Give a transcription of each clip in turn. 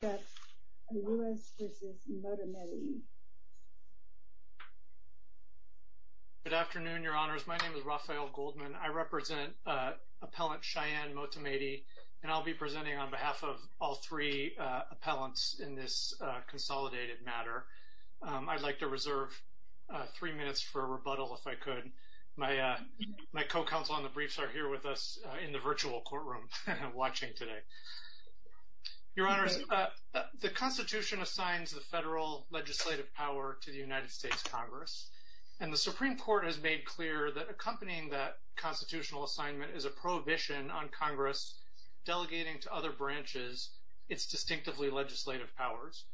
Good afternoon, Your Honors. My name is Raphael Goldman. I represent Appellant Cheyenne Motamedi and I'll be presenting on behalf of all three appellants in this consolidated matter. I'd like to reserve three minutes for rebuttal if I could. My co-counsel on the briefs are here with us in the virtual courtroom watching today. Your Honors, the Constitution assigns the federal legislative power to the United States Congress and the Supreme Court has made clear that accompanying that constitutional assignment is a prohibition on Congress delegating to other branches its distinctively legislative powers.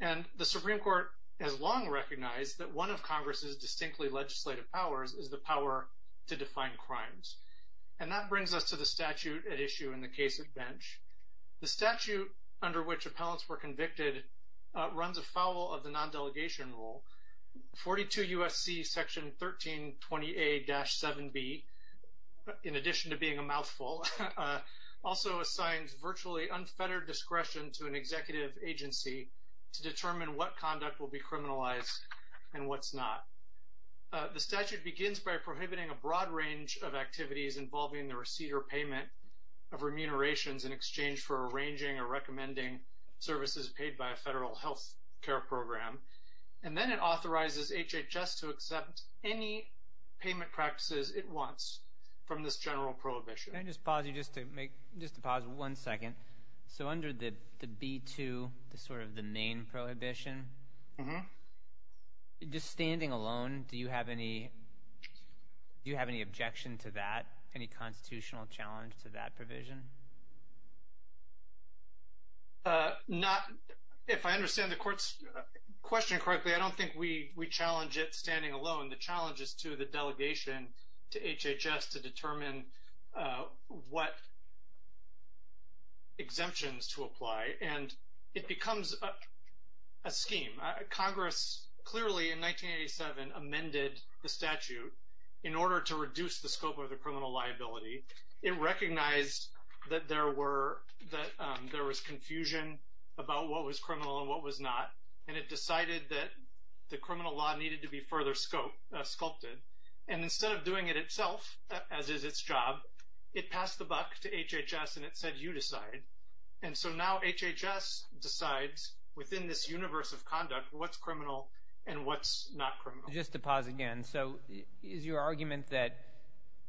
And the Supreme Court has long recognized that one of Congress's distinctly legislative powers is the power to define crimes. And that brings us to the statute at issue in the case of Bench. The statute under which appellants were convicted runs afoul of the non-delegation rule. 42 U.S.C. Section 1320a-7b, in addition to being a mouthful, also assigns virtually unfettered discretion to an executive agency to determine what conduct will be criminalized and what's not. The statute begins by prohibiting a broad range of activities involving the receipt or payment of remunerations in exchange for arranging or recommending services paid by a federal health care program. And then it authorizes HHS to accept any payment practices it wants from this general prohibition. Can I just pause you just to make, just to pause one second. So under the B-2, the sort of the main prohibition, just standing alone, do you have any, do you have any objection to that, any constitutional challenge to that provision? Not, if I understand the court's question correctly, I don't think we challenge it standing alone. The challenge is to the delegation to HHS to determine what exemptions to apply. And it becomes a scheme. Congress clearly in 1987 amended the statute in order to reduce the scope of the criminal liability. It recognized that there were, that there was confusion about what was criminal and what was not. And it decided that the criminal law needed to be further scope, sculpted. And instead of doing it itself, as is its job, it passed the buck to HHS and it said, you decide. And so now HHS decides within this universe of conduct, what's criminal and what's not criminal. Just to pause again. So is your argument that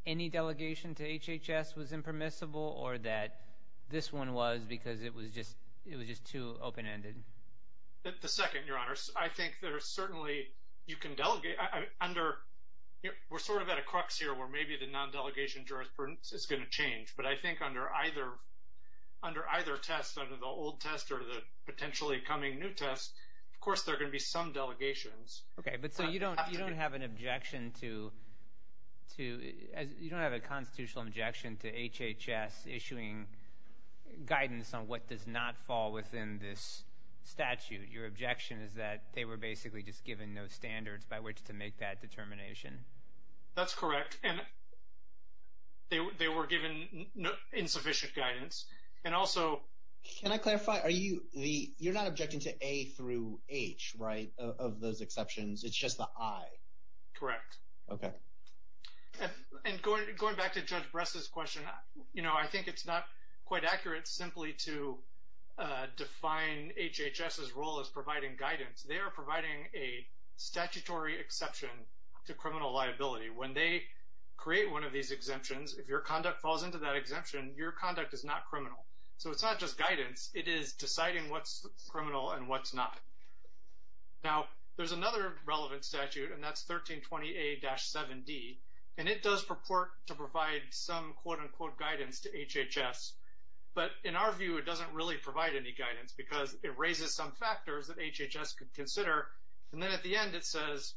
any delegation to HHS was impermissible or that this one was because it was just, it was just too open-ended? The second, your honors, I think there are certainly, you can delegate under, we're sort of at a crux here where maybe the non-delegation jurisprudence is going to change. But I think under either, under either test, under the old test or the potentially coming new test, of course, there are going to be some delegations. Okay. But so you don't, you don't have an objection to, to, as you don't have a constitutional objection to HHS issuing guidance on what does not fall within this statute. Your objection is that they were basically just given no standards by which to make that determination. That's correct. And they, they were given insufficient guidance. And also. Can I clarify? Are you the, you're not objecting to A through H, right? Of those exceptions. It's just the I. Correct. Okay. And going, going back to Judge Bress's question, you know, I think it's not quite accurate simply to define HHS's role as providing guidance. They are providing a statutory exception to criminal liability. When they create one of these exemptions, if your conduct falls into that exemption, your conduct is not criminal. So it's not just guidance. It is deciding what's criminal and what's not. Now, there's another relevant statute and that's 1320A-7D. And it does purport to provide some quote unquote guidance to HHS. But in our view, it doesn't really provide any guidance because it raises some factors that HHS could consider. And then at the end it says,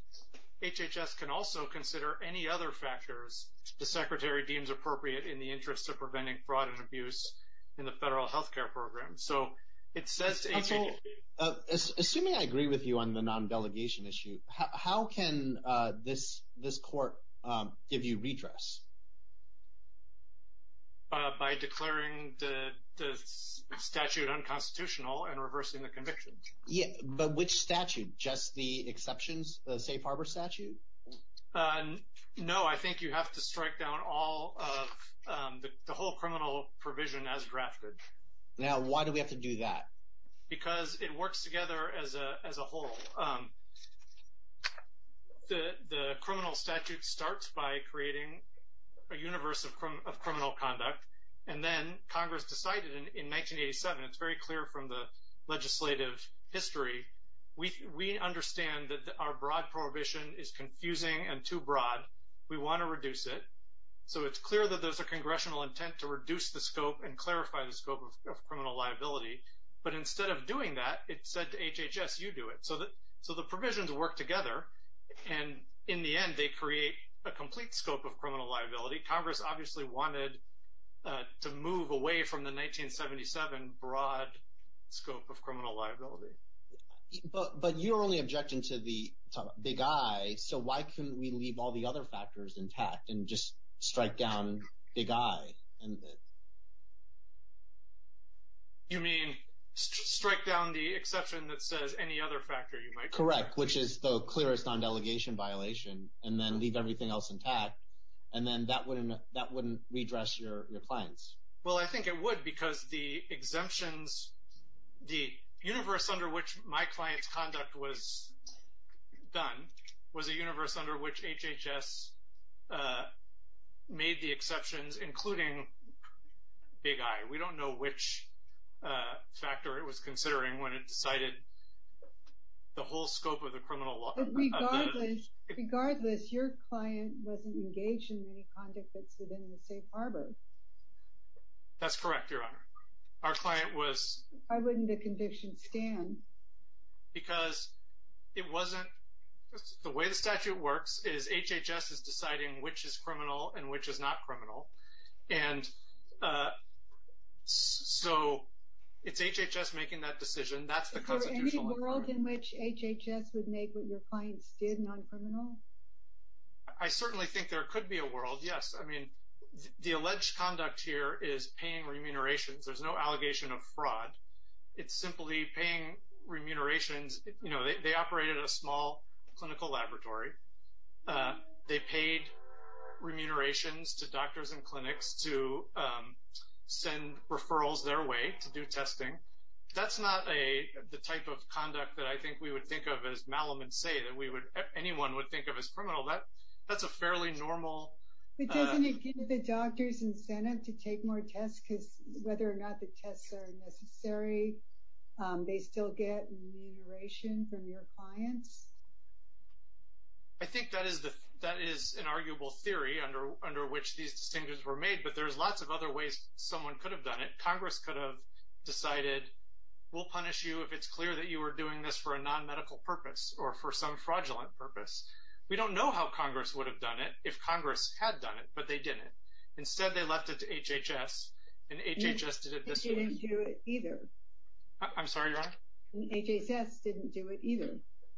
HHS can also consider any other factors the secretary deems appropriate in the interest of preventing fraud and abuse in the federal healthcare program. So it says to HHS. Okay. Assuming I agree with you on the non-delegation issue, how can this court give you redress? By declaring the statute unconstitutional and reversing the conviction. Yeah. But which statute? Just the exceptions, the safe harbor statute? No. I think you have to strike down all of the whole criminal provision as drafted. Now why do we have to do that? Because it works together as a whole. The criminal statute starts by creating a universe of criminal conduct. And then Congress decided in 1987, it's very clear from the legislative history, we understand that our broad prohibition is confusing and too broad. We want to reduce it. So it's clear that there's a congressional intent to reduce the scope and clarify the scope. But instead of doing that, it said to HHS, you do it. So the provisions work together. And in the end, they create a complete scope of criminal liability. Congress obviously wanted to move away from the 1977 broad scope of criminal liability. But you're only objecting to the big I. So why couldn't we leave all the other factors intact and just strike down big I? You mean, strike down the exception that says any other factor you might... Correct. Which is the clearest non-delegation violation. And then leave everything else intact. And then that wouldn't redress your clients. Well, I think it would because the exemptions, the universe under which my client's conduct was done, was a universe under which HHS made the exceptions, including the fact that HHS was doing big I. We don't know which factor it was considering when it decided the whole scope of the criminal law. But regardless, your client wasn't engaged in any conduct that's within the safe harbor. That's correct, Your Honor. Our client was... Why wouldn't the conviction stand? Because it wasn't... The way the statute works is HHS is deciding which is criminal and which is not criminal. And so it's HHS making that decision. That's the constitutional requirement. Is there any world in which HHS would make what your clients did non-criminal? I certainly think there could be a world, yes. I mean, the alleged conduct here is paying remunerations. There's no allegation of fraud. It's simply paying remunerations. You know, they operated a small clinical laboratory. They paid remunerations to doctors and clinics to send referrals their way to do testing. That's not the type of conduct that I think we would think of as malum and say that anyone would think of as criminal. That's a fairly normal... But doesn't it give the doctors incentive to take more tests? Because whether or not the tests are necessary, they still get remuneration from your clients? I think that is an arguable theory under which these distinctions were made, but there's lots of other ways someone could have done it. Congress could have decided, we'll punish you if it's clear that you were doing this for a non-medical purpose or for some fraudulent purpose. We don't know how Congress would have done it if Congress had done it, but they didn't. Instead, they left it to HHS, and HHS did it this way. And they didn't do it either. I'm sorry, your honor? And HHS didn't do it either.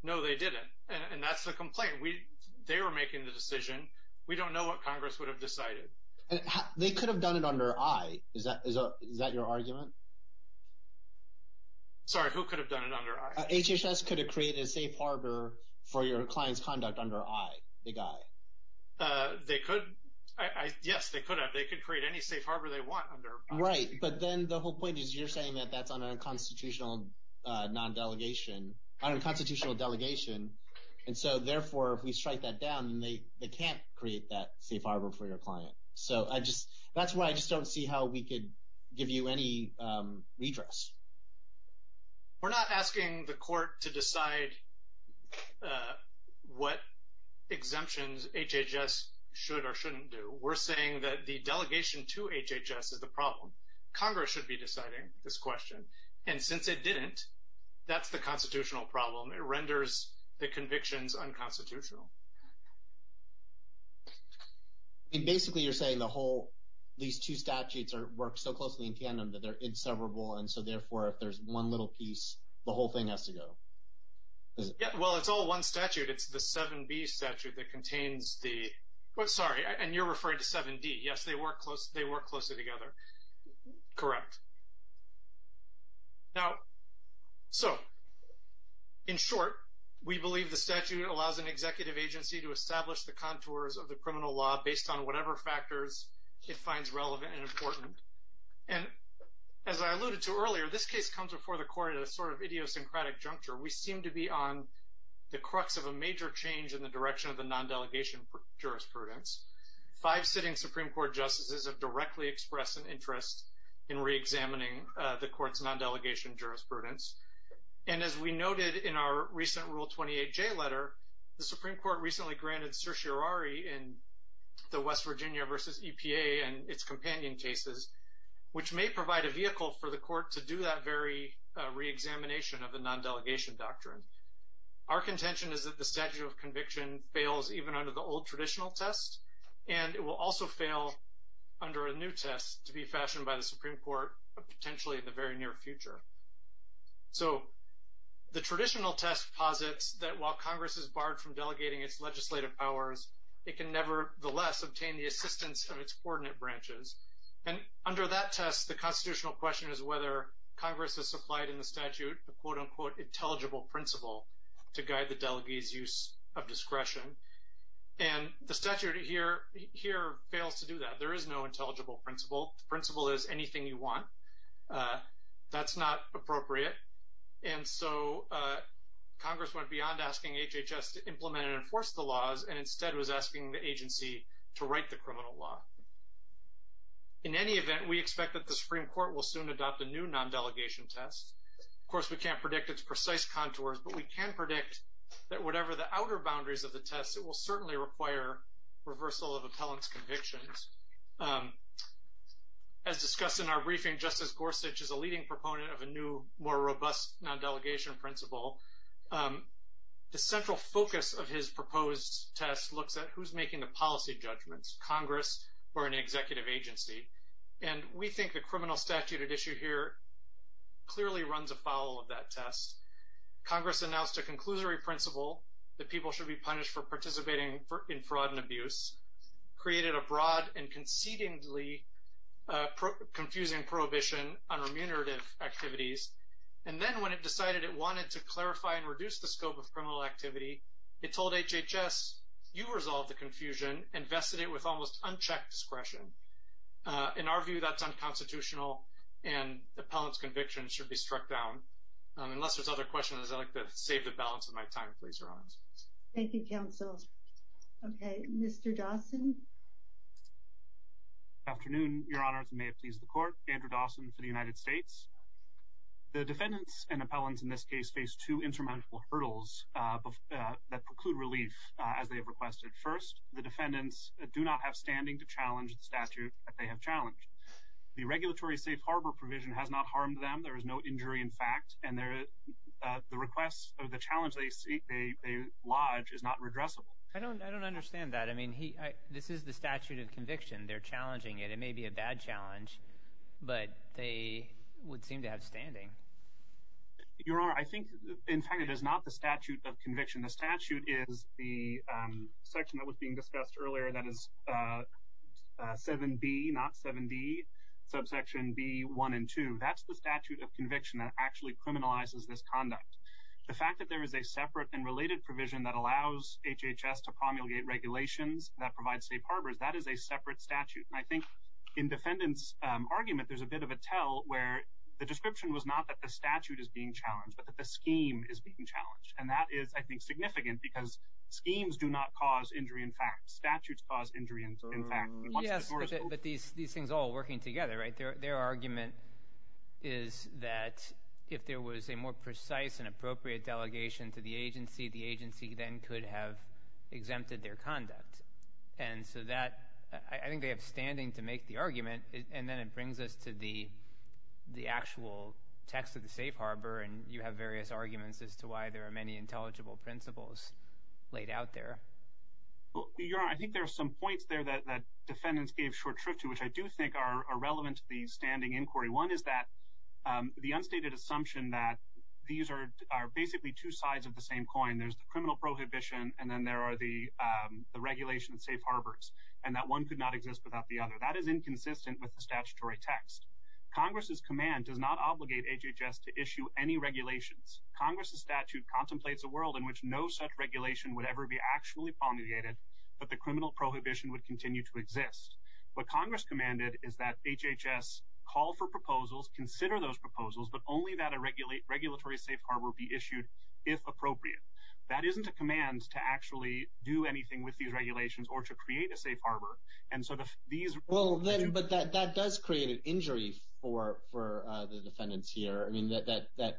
No, they didn't, and that's the complaint. They were making the decision. We don't know what Congress would have decided. They could have done it under I. Is that your argument? Sorry, who could have done it under I? HHS could have created a safe harbor for your client's conduct under I, the guy. They could, yes, they could have. They could create any safe harbor they want under I. Right, but then the whole point is you're saying that that's on a constitutional non-delegation, on a constitutional delegation, and so therefore if we strike that down, they can't create that safe harbor for your client. So I just, that's why I just don't see how we could give you any redress. We're not asking the court to decide what exemptions HHS should or shouldn't do. We're saying that the delegation to HHS is the problem. Congress should be deciding this question. And since it didn't, that's the constitutional problem. It renders the convictions unconstitutional. Basically, you're saying the whole, these two statutes work so closely in tandem that they're inseparable, and so therefore if there's one little piece, the whole thing has to go. Well, it's all one statute. It's the 7B statute that contains the, sorry, and you're referring to 7D. Yes, they work closely together. Correct. Now, so, in short, we believe the statute allows an executive agency to establish the contours of the criminal law based on whatever factors it finds relevant and important. And as I alluded to earlier, this case comes before the court at a sort of idiosyncratic juncture. We seem to be on the crux of a major change in the direction of the non-delegation jurisprudence. Five sitting Supreme Court justices have directly expressed an interest in reexamining the court's non-delegation jurisprudence. And as we noted in our recent Rule 28J letter, the Supreme Court recently granted certiorari in the West Virginia versus EPA and its companion cases, which may provide a vehicle for the court to do that very reexamination of the non-delegation doctrine. Our contention is that the statute of conviction fails even under the old traditional test, and it will also fail under a new test to be fashioned by the Supreme Court, potentially in the very near future. So the traditional test posits that while Congress is barred from delegating its legislative powers, it can nevertheless obtain the assistance of its coordinate branches. And under that test, the constitutional question is whether Congress has supplied in the statute a quote-unquote intelligible principle to guide the delegee's use of discretion. And the statute here fails to do that. There is no intelligible principle. The principle is anything you want. That's not appropriate. And so Congress went beyond asking HHS to implement and enforce the laws and instead was asking the agency to write the criminal law. In any event, we expect that the Supreme Court will soon adopt a new non-delegation test. Of course, we can't predict its precise contours, but we can predict that whatever the outer boundaries of the test, it will certainly require reversal of appellant's convictions. As discussed in our briefing, Justice Gorsuch is a leading proponent of a new, more robust non-delegation principle. The central focus of his proposed test looks at who's making the policy judgments, Congress or an executive agency. And we think the criminal statute at issue here clearly runs afoul of that test. Congress announced a conclusory principle that people should be punished for participating in fraud and abuse, created a broad and concedingly confusing prohibition on remunerative activities, and then when it decided it wanted to clarify and reduce the scope of criminal activity, it told HHS, you resolve the confusion and vested it with almost unchecked discretion. In our view, that's unconstitutional, and appellant's convictions should be struck down. Unless there's other questions, I'd like to save the balance of my time, please, Your Honors. Thank you, counsel. Okay, Mr. Dawson. Good afternoon, Your Honors, and may it please the Court. Andrew Dawson for the United States. The defendants and appellants in this case face two insurmountable hurdles that preclude relief, as they have requested. First, the defendants do not have standing to challenge the statute that they have challenged. The regulatory safe harbor provision has not harmed them, there is no injury in fact, and the request of the challenge they lodge is not redressable. I don't understand that. I mean, this is the statute of conviction. They're challenging it. It may be a bad challenge, but they would seem to have standing. Your Honor, I think in fact it is not the statute of conviction. The statute is the section that was being discussed earlier, that is 7B, not 7D, subsection B1 and 2. That's the statute of conviction that actually criminalizes this conduct. The fact that there is a separate and related provision that allows HHS to promulgate regulations that provide safe harbors, that is a separate statute. And I think in defendants' argument, there's a bit of a tell where the description was not that the statute is being challenged, but that the scheme is being challenged. And that is, I think, significant because schemes do not cause injury in fact. Statutes cause injury in fact. Yes, but these things all are working together, right? Their argument is that if there was a more precise and appropriate delegation to the agency, the agency then could have exempted their conduct. And so that, I think they have standing to make the argument, and then it brings us to the actual text of the safe harbor, and you have various arguments as to why there are many intelligible principles laid out there. Your Honor, I think there are some points there that defendants gave short shrift to, which I do think are relevant to the standing inquiry. One is that the unstated assumption that these are basically two sides of the same coin. There's the criminal prohibition, and then there are the regulation of safe harbors, and that one could not exist without the other. That is inconsistent with the statutory text. Congress's command does not obligate HHS to issue any regulations. Congress's statute contemplates a world in which no such regulation would ever be actually promulgated, but the criminal prohibition would continue to exist. What Congress commanded is that HHS call for proposals, consider those proposals, but only that a regulatory safe harbor be issued if appropriate. That isn't a command to actually do anything with these regulations or to create a safe harbor, and so these— Well, but that does create an injury for the defendants here. I mean, that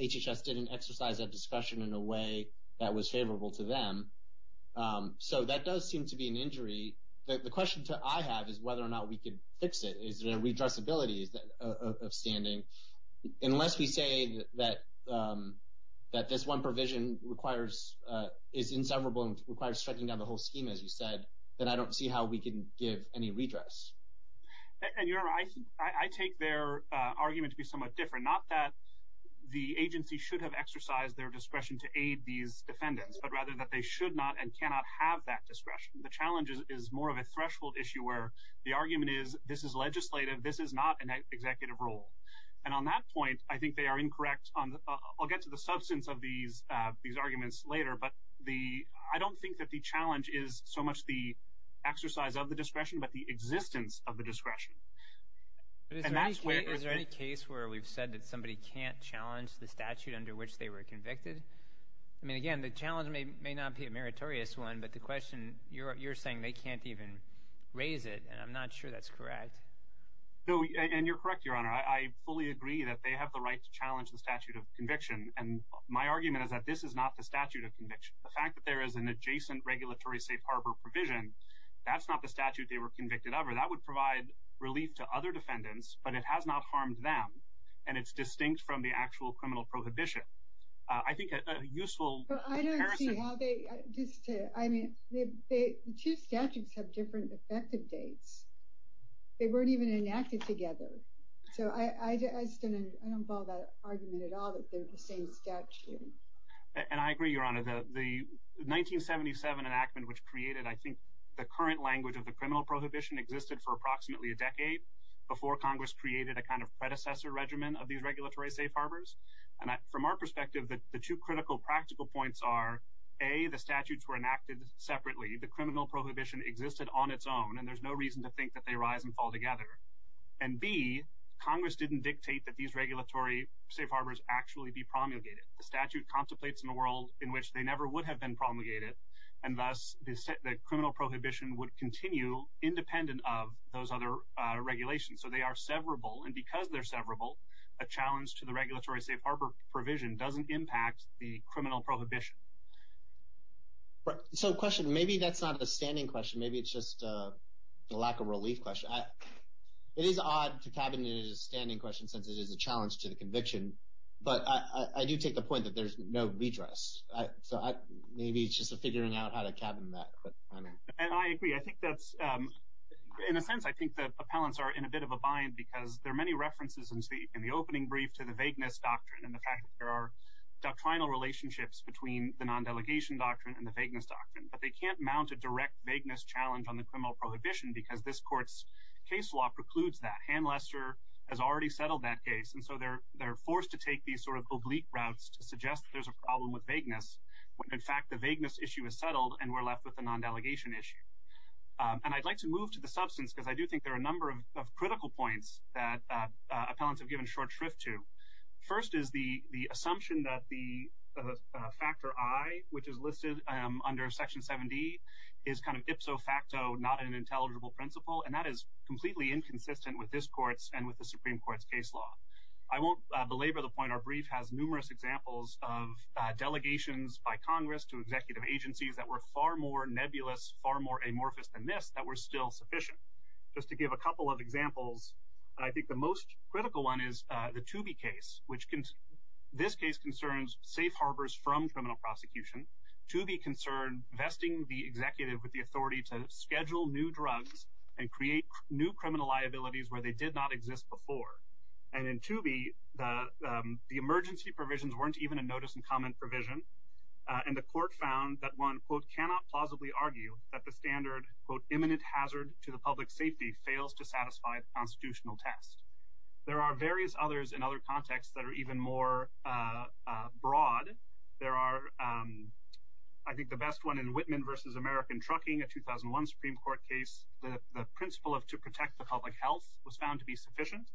HHS didn't exercise that discretion in a way that was favorable to them. So that does seem to be an injury. The question I have is whether or not we could fix it. Is there a redressability of standing? Unless we say that this one provision is inseparable and requires striking down the whole scheme, as you said, then I don't see how we can give any redress. And, you know, I take their argument to be somewhat different, not that the agency should have exercised their discretion to aid these defendants, but rather that they should not and cannot have that discretion. The challenge is more of a threshold issue where the argument is this is legislative, this is not an executive role. And on that point, I think they are incorrect on—I'll get to the substance of these arguments later, but I don't think that the challenge is so much the exercise of the discretion but the existence of the discretion. And that's where— Is there any case where we've said that somebody can't challenge the statute under which they were convicted? I mean, again, the challenge may not be a meritorious one, but the question—you're saying they can't even raise it, and I'm not sure that's correct. And you're correct, Your Honor. I fully agree that they have the right to challenge the statute of conviction, and my argument is that this is not the statute of conviction. The fact that there is an adjacent regulatory safe harbor provision, that's not the statute they were convicted under. That would provide relief to other defendants, but it has not harmed them, and it's distinct from the actual criminal prohibition. I think a useful comparison— But I don't see how they—just to—I mean, the two statutes have different effective dates. They weren't even enacted together. So I don't follow that argument at all that they're the same statute. And I agree, Your Honor. The 1977 enactment, which created, I think, the current language of the criminal prohibition, existed for approximately a decade before Congress created a kind of predecessor regimen of these regulatory safe harbors. And from our perspective, the two critical practical points are, A, the statutes were enacted separately. The criminal prohibition existed on its own, and there's no reason to think that they rise and fall together. And B, Congress didn't dictate that these regulatory safe harbors actually be promulgated. The statute contemplates in a world in which they never would have been promulgated, and thus the criminal prohibition would continue independent of those other regulations. So they are severable, and because they're severable, a challenge to the regulatory safe harbor provision doesn't impact the criminal prohibition. So a question. Maybe that's not a standing question. Maybe it's just a lack of relief question. It is odd to cabinet it as a standing question since it is a challenge to the conviction, but I do take the point that there's no redress. So maybe it's just a figuring out how to cabinet that. And I agree. I think that's, in a sense, I think the appellants are in a bit of a bind because there are many references in the opening brief to the vagueness doctrine and the fact that there are doctrinal relationships between the non-delegation doctrine and the vagueness doctrine, but they can't mount a direct vagueness challenge on the criminal prohibition because this court's case law precludes that. Anne Lester has already settled that case, and so they're forced to take these sort of oblique routes to suggest there's a problem with vagueness when, in fact, the vagueness issue is settled and we're left with a non-delegation issue. And I'd like to move to the substance because I do think there are a number of critical points that appellants have given short shrift to. First is the assumption that the factor I, which is listed under Section 7D, is kind of ipso facto, not an intelligible principle, and that is completely inconsistent with this court's and with the Supreme Court's case law. I won't belabor the point. Our brief has numerous examples of delegations by Congress to executive agencies that were far more nebulous, far more amorphous than this that were still sufficient. Just to give a couple of examples, I think the most critical one is the Toobie case, which this case concerns safe harbors from criminal prosecution. Toobie concerned vesting the executive with the authority to schedule new drugs and create new criminal liabilities where they did not exist before. And in Toobie, the emergency provisions weren't even a notice-and-comment provision, and the court found that one, quote, cannot plausibly argue that the standard, quote, imminent hazard to the public's safety fails to satisfy the constitutional test. There are various others in other contexts that are even more broad. There are, I think, the best one in Whitman v. American Trucking, a 2001 Supreme Court case. The principle of to protect the public health was found to be sufficient.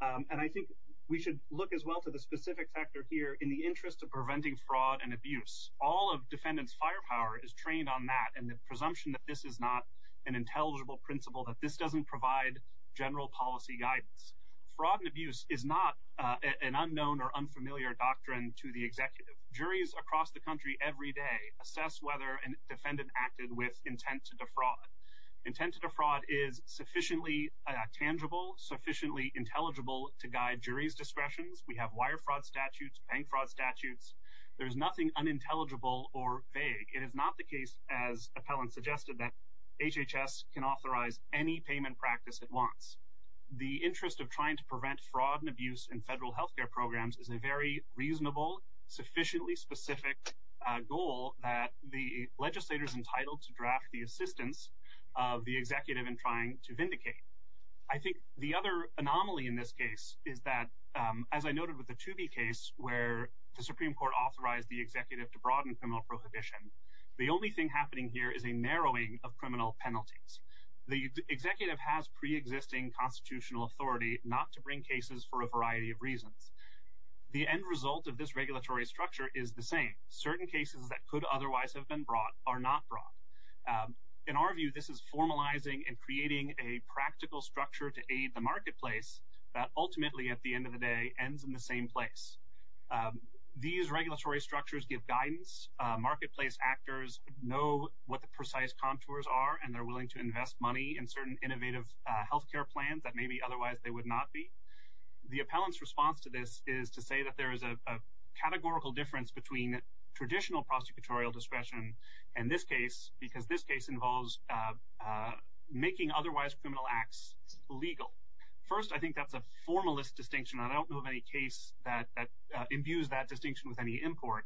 And I think we should look as well to the specific sector here in the interest of preventing fraud and abuse. All of defendants' firepower is trained on that and the presumption that this is not an intelligible principle, that this doesn't provide general policy guidance. Fraud and abuse is not an unknown or unfamiliar doctrine to the executive. Juries across the country every day assess whether a defendant acted with intent to defraud. Intent to defraud is sufficiently tangible, sufficiently intelligible to guide jury's discretions. We have wire fraud statutes, bank fraud statutes. There is nothing unintelligible or vague. It is not the case, as appellants suggested, that HHS can authorize any payment practice it wants. The interest of trying to prevent fraud and abuse in federal health care programs is a very reasonable, sufficiently specific goal that the legislator is entitled to draft the assistance of the executive in trying to vindicate. I think the other anomaly in this case is that, as I noted with the Toobie case, where the Supreme Court authorized the executive to broaden criminal prohibition, the only thing happening here is a narrowing of criminal penalties. The executive has preexisting constitutional authority not to bring cases for a The end result of this regulatory structure is the same. Certain cases that could otherwise have been brought are not brought. In our view, this is formalizing and creating a practical structure to aid the marketplace that ultimately, at the end of the day, ends in the same place. These regulatory structures give guidance. Marketplace actors know what the precise contours are, and they're willing to invest money in certain innovative health care plans that maybe otherwise they would not be. The appellant's response to this is to say that there is a categorical difference between traditional prosecutorial discretion and this case because this case involves making otherwise criminal acts legal. First, I think that's a formalist distinction. I don't know of any case that imbues that distinction with any import.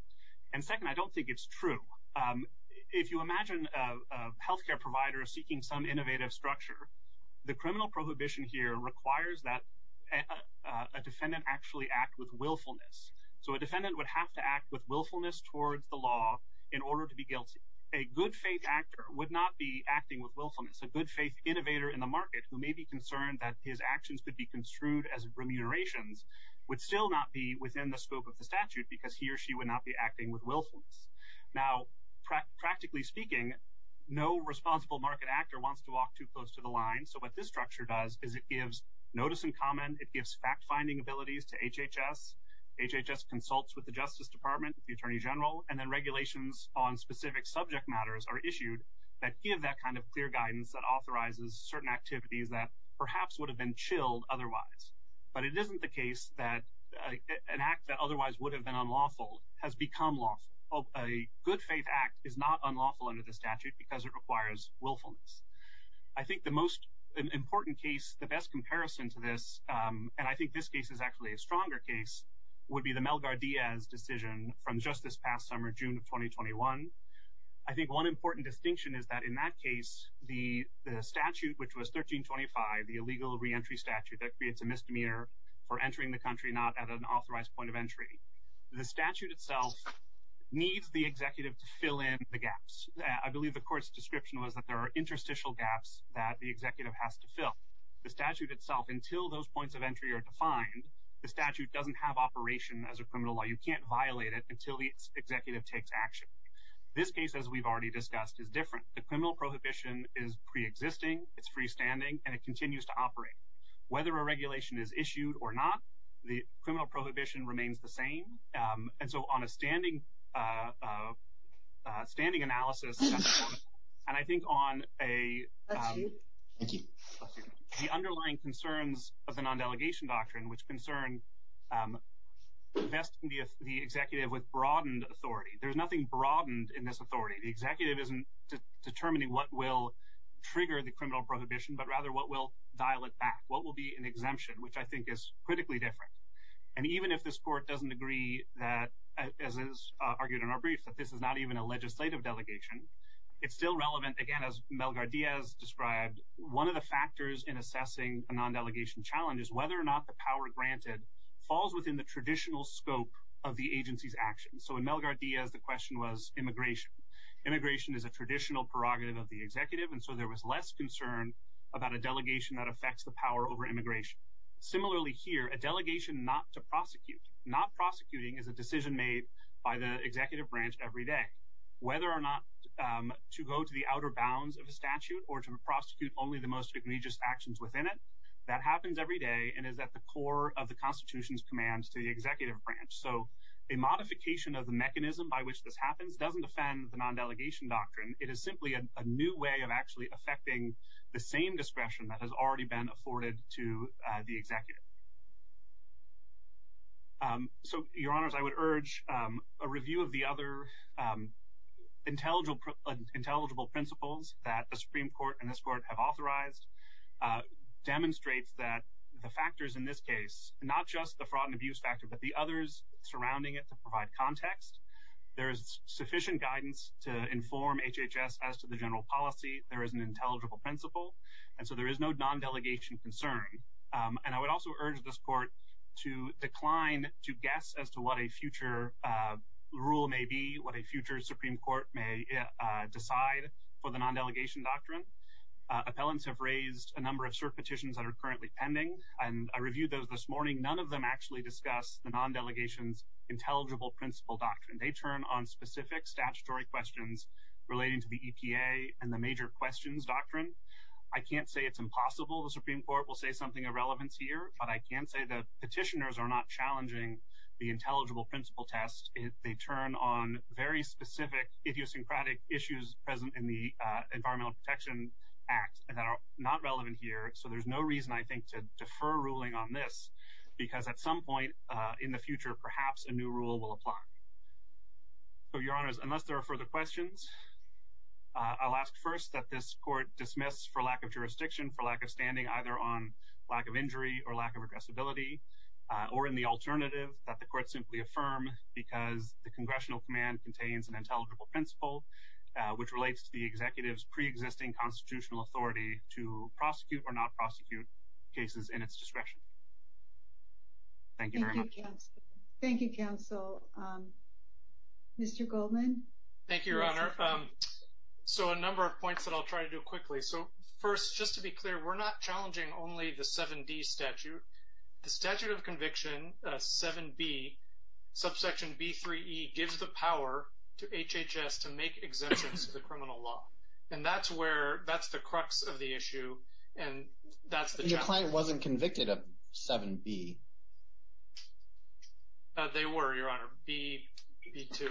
And second, I don't think it's true. If you imagine a health care provider seeking some innovative structure, the criminal prohibition here requires that a defendant actually act with willfulness. So a defendant would have to act with willfulness towards the law in order to be guilty. A good-faith actor would not be acting with willfulness. A good-faith innovator in the market who may be concerned that his actions could be construed as remunerations would still not be within the scope of the statute because he or she would not be acting with willfulness. Now, practically speaking, no responsible market actor wants to walk too close to the line. So what this structure does is it gives notice and comment. It gives fact-finding abilities to HHS. HHS consults with the Justice Department, the Attorney General, and then regulations on specific subject matters are issued that give that kind of clear guidance that authorizes certain activities that perhaps would have been chilled otherwise. But it isn't the case that an act that otherwise would have been unlawful has become lawful. A good-faith act is not unlawful under the statute because it requires willfulness. I think the most important case, the best comparison to this, and I think this case is actually a stronger case, would be the Melgar-Diaz decision from just this past summer, June of 2021. I think one important distinction is that in that case, the statute, which was 1325, the illegal reentry statute that creates a misdemeanor for entering the country not at an authorized point of entry, the statute itself needs the executive to fill in the gaps. I believe the court's description was that there are interstitial gaps that the executive has to fill. The statute itself, until those points of entry are defined, the statute doesn't have operation as a criminal law. You can't violate it until the executive takes action. This case, as we've already discussed, is different. The criminal prohibition is preexisting, it's freestanding, and it continues to operate. Whether a regulation is issued or not, the criminal prohibition remains the same. And so on a standing analysis, and I think on the underlying concerns of the non-delegation doctrine, which concern investing the executive with broadened authority. There's nothing broadened in this authority. The executive isn't determining what will trigger the criminal prohibition, but rather what will dial it back, what will be an exemption, which I think is critically different. And even if this court doesn't agree that, as is argued in our brief, that this is not even a legislative delegation, it's still relevant, again, as Mel-Gar-Diaz described, one of the factors in assessing a non-delegation challenge is whether or not the power granted falls within the traditional scope of the agency's actions. So in Mel-Gar-Diaz, the question was immigration. Immigration is a traditional prerogative of the executive, and so there was less concern about a delegation that affects the power over immigration. Similarly here, a delegation not to prosecute. Not prosecuting is a decision made by the executive branch every day. Whether or not to go to the outer bounds of a statute or to prosecute only the most egregious actions within it, that happens every day and is at the core of the Constitution's commands to the executive branch. So a modification of the mechanism by which this happens doesn't offend the non-delegation doctrine. It is simply a new way of actually affecting the same discretion that has already been afforded to the executive. So, Your Honors, I would urge a review of the other intelligible principles that the Supreme Court and this Court have authorized demonstrates that the factors in this case, not just the fraud and abuse factor, but the others surrounding it to provide context. There is sufficient guidance to inform HHS as to the general policy. There is an intelligible principle, and so there is no non-delegation concern. And I would also urge this Court to decline to guess as to what a future rule may be, what a future Supreme Court may decide for the non-delegation doctrine. Appellants have raised a number of cert petitions that are currently pending, and I reviewed those this morning. None of them actually discuss the non-delegation's intelligible principle doctrine. They turn on specific statutory questions relating to the EPA and the major questions doctrine. I can't say it's impossible the Supreme Court will say something of relevance here, but I can say the petitioners are not challenging the intelligible principle test. They turn on very specific idiosyncratic issues present in the Environmental Protection Act that are not relevant here. So there's no reason, I think, to defer ruling on this, because at some point in the future perhaps a new rule will apply. So, Your Honors, unless there are further questions, I'll ask first that this Court dismiss for lack of jurisdiction, for lack of standing, either on lack of injury or lack of addressability, or in the alternative, that the Court simply affirm because the Congressional command contains an intelligible principle which relates to the Executive's pre-existing constitutional authority to prosecute or not prosecute cases in its discretion. Thank you very much. Thank you, Counsel. Mr. Goldman? Thank you, Your Honor. So a number of points that I'll try to do quickly. So first, just to be clear, we're not challenging only the 7D statute. The statute of conviction, 7B, subsection B3E, gives the power to HHS to make exemptions to the criminal law. And that's the crux of the issue, and that's the challenge. Your client wasn't convicted of 7B. They were, Your Honor, B2.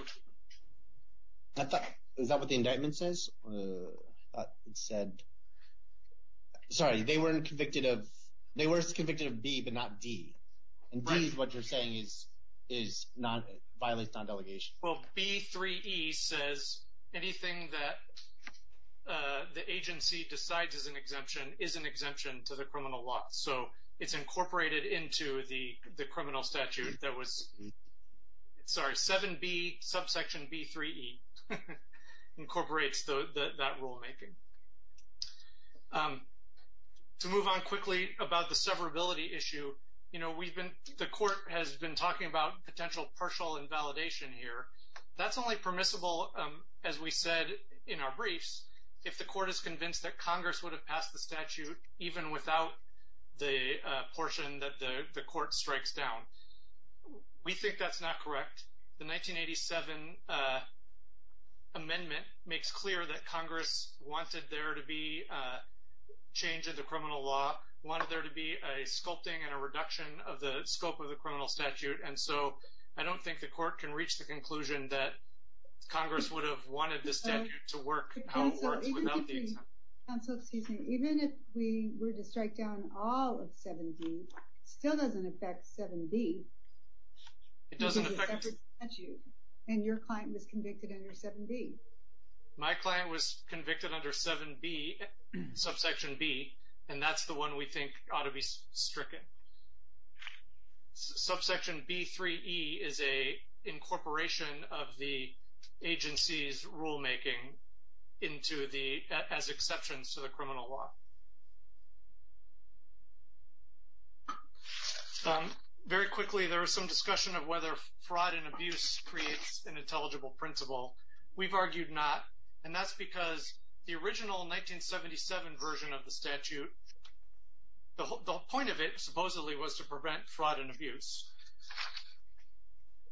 Is that what the indictment says? It said – sorry, they weren't convicted of – they were convicted of B but not D. And D is what you're saying violates non-delegation. Well, B3E says anything that the agency decides is an exemption is an exemption to the criminal law. So it's incorporated into the criminal statute that was – sorry, 7B, subsection B3E incorporates that rulemaking. To move on quickly about the severability issue, you know, we've been – the court has been talking about potential partial invalidation here. That's only permissible, as we said in our briefs, if the court is convinced that Congress would have passed the statute even without the portion that the court strikes down. We think that's not correct. The 1987 amendment makes clear that Congress wanted there to be a change in the criminal law, wanted there to be a sculpting and a reduction of the scope of the criminal statute. And so I don't think the court can reach the conclusion that Congress would have wanted this statute to work how it works without the exemption. Counsel, excuse me. Even if we were to strike down all of 7B, it still doesn't affect 7B. It doesn't affect – And your client was convicted under 7B. My client was convicted under 7B, subsection B, and that's the one we think ought to be stricken. Subsection B3E is a incorporation of the agency's rulemaking into the – as exceptions to the criminal law. Very quickly, there was some discussion of whether fraud and abuse creates an intelligible principle. We've argued not, and that's because the original 1977 version of the statute, the whole point of it supposedly was to prevent fraud and abuse.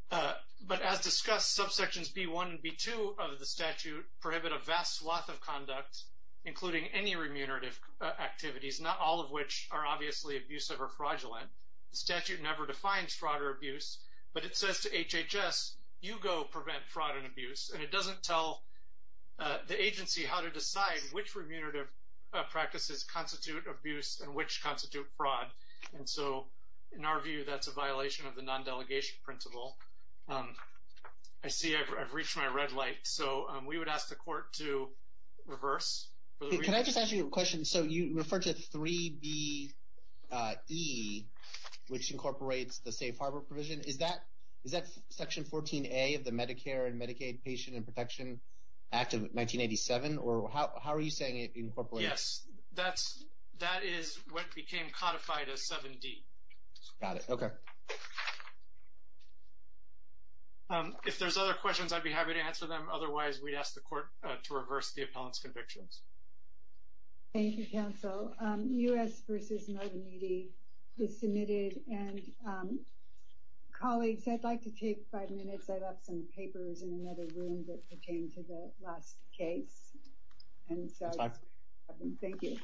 But as discussed, subsections B1 and B2 of the statute prohibit a vast swath of conduct, including any remunerative activities, not all of which are obviously abusive or fraudulent. The statute never defines fraud or abuse, but it says to HHS, you go prevent fraud and abuse, and it doesn't tell the agency how to decide which remunerative practices constitute abuse and which constitute fraud. And so in our view, that's a violation of the non-delegation principle. I see I've reached my red light, so we would ask the court to reverse. Can I just ask you a question? So you referred to 3BE, which incorporates the safe harbor provision. Is that Section 14A of the Medicare and Medicaid Patient and Protection Act of 1987? Or how are you saying it incorporates? Yes, that is what became codified as 7D. Got it, okay. If there's other questions, I'd be happy to answer them. Otherwise, we'd ask the court to reverse the appellant's convictions. Thank you, counsel. U.S. v. Novamedi is submitted. And colleagues, I'd like to take five minutes. I left some papers in another room that pertain to the last case. That's fine. Thank you.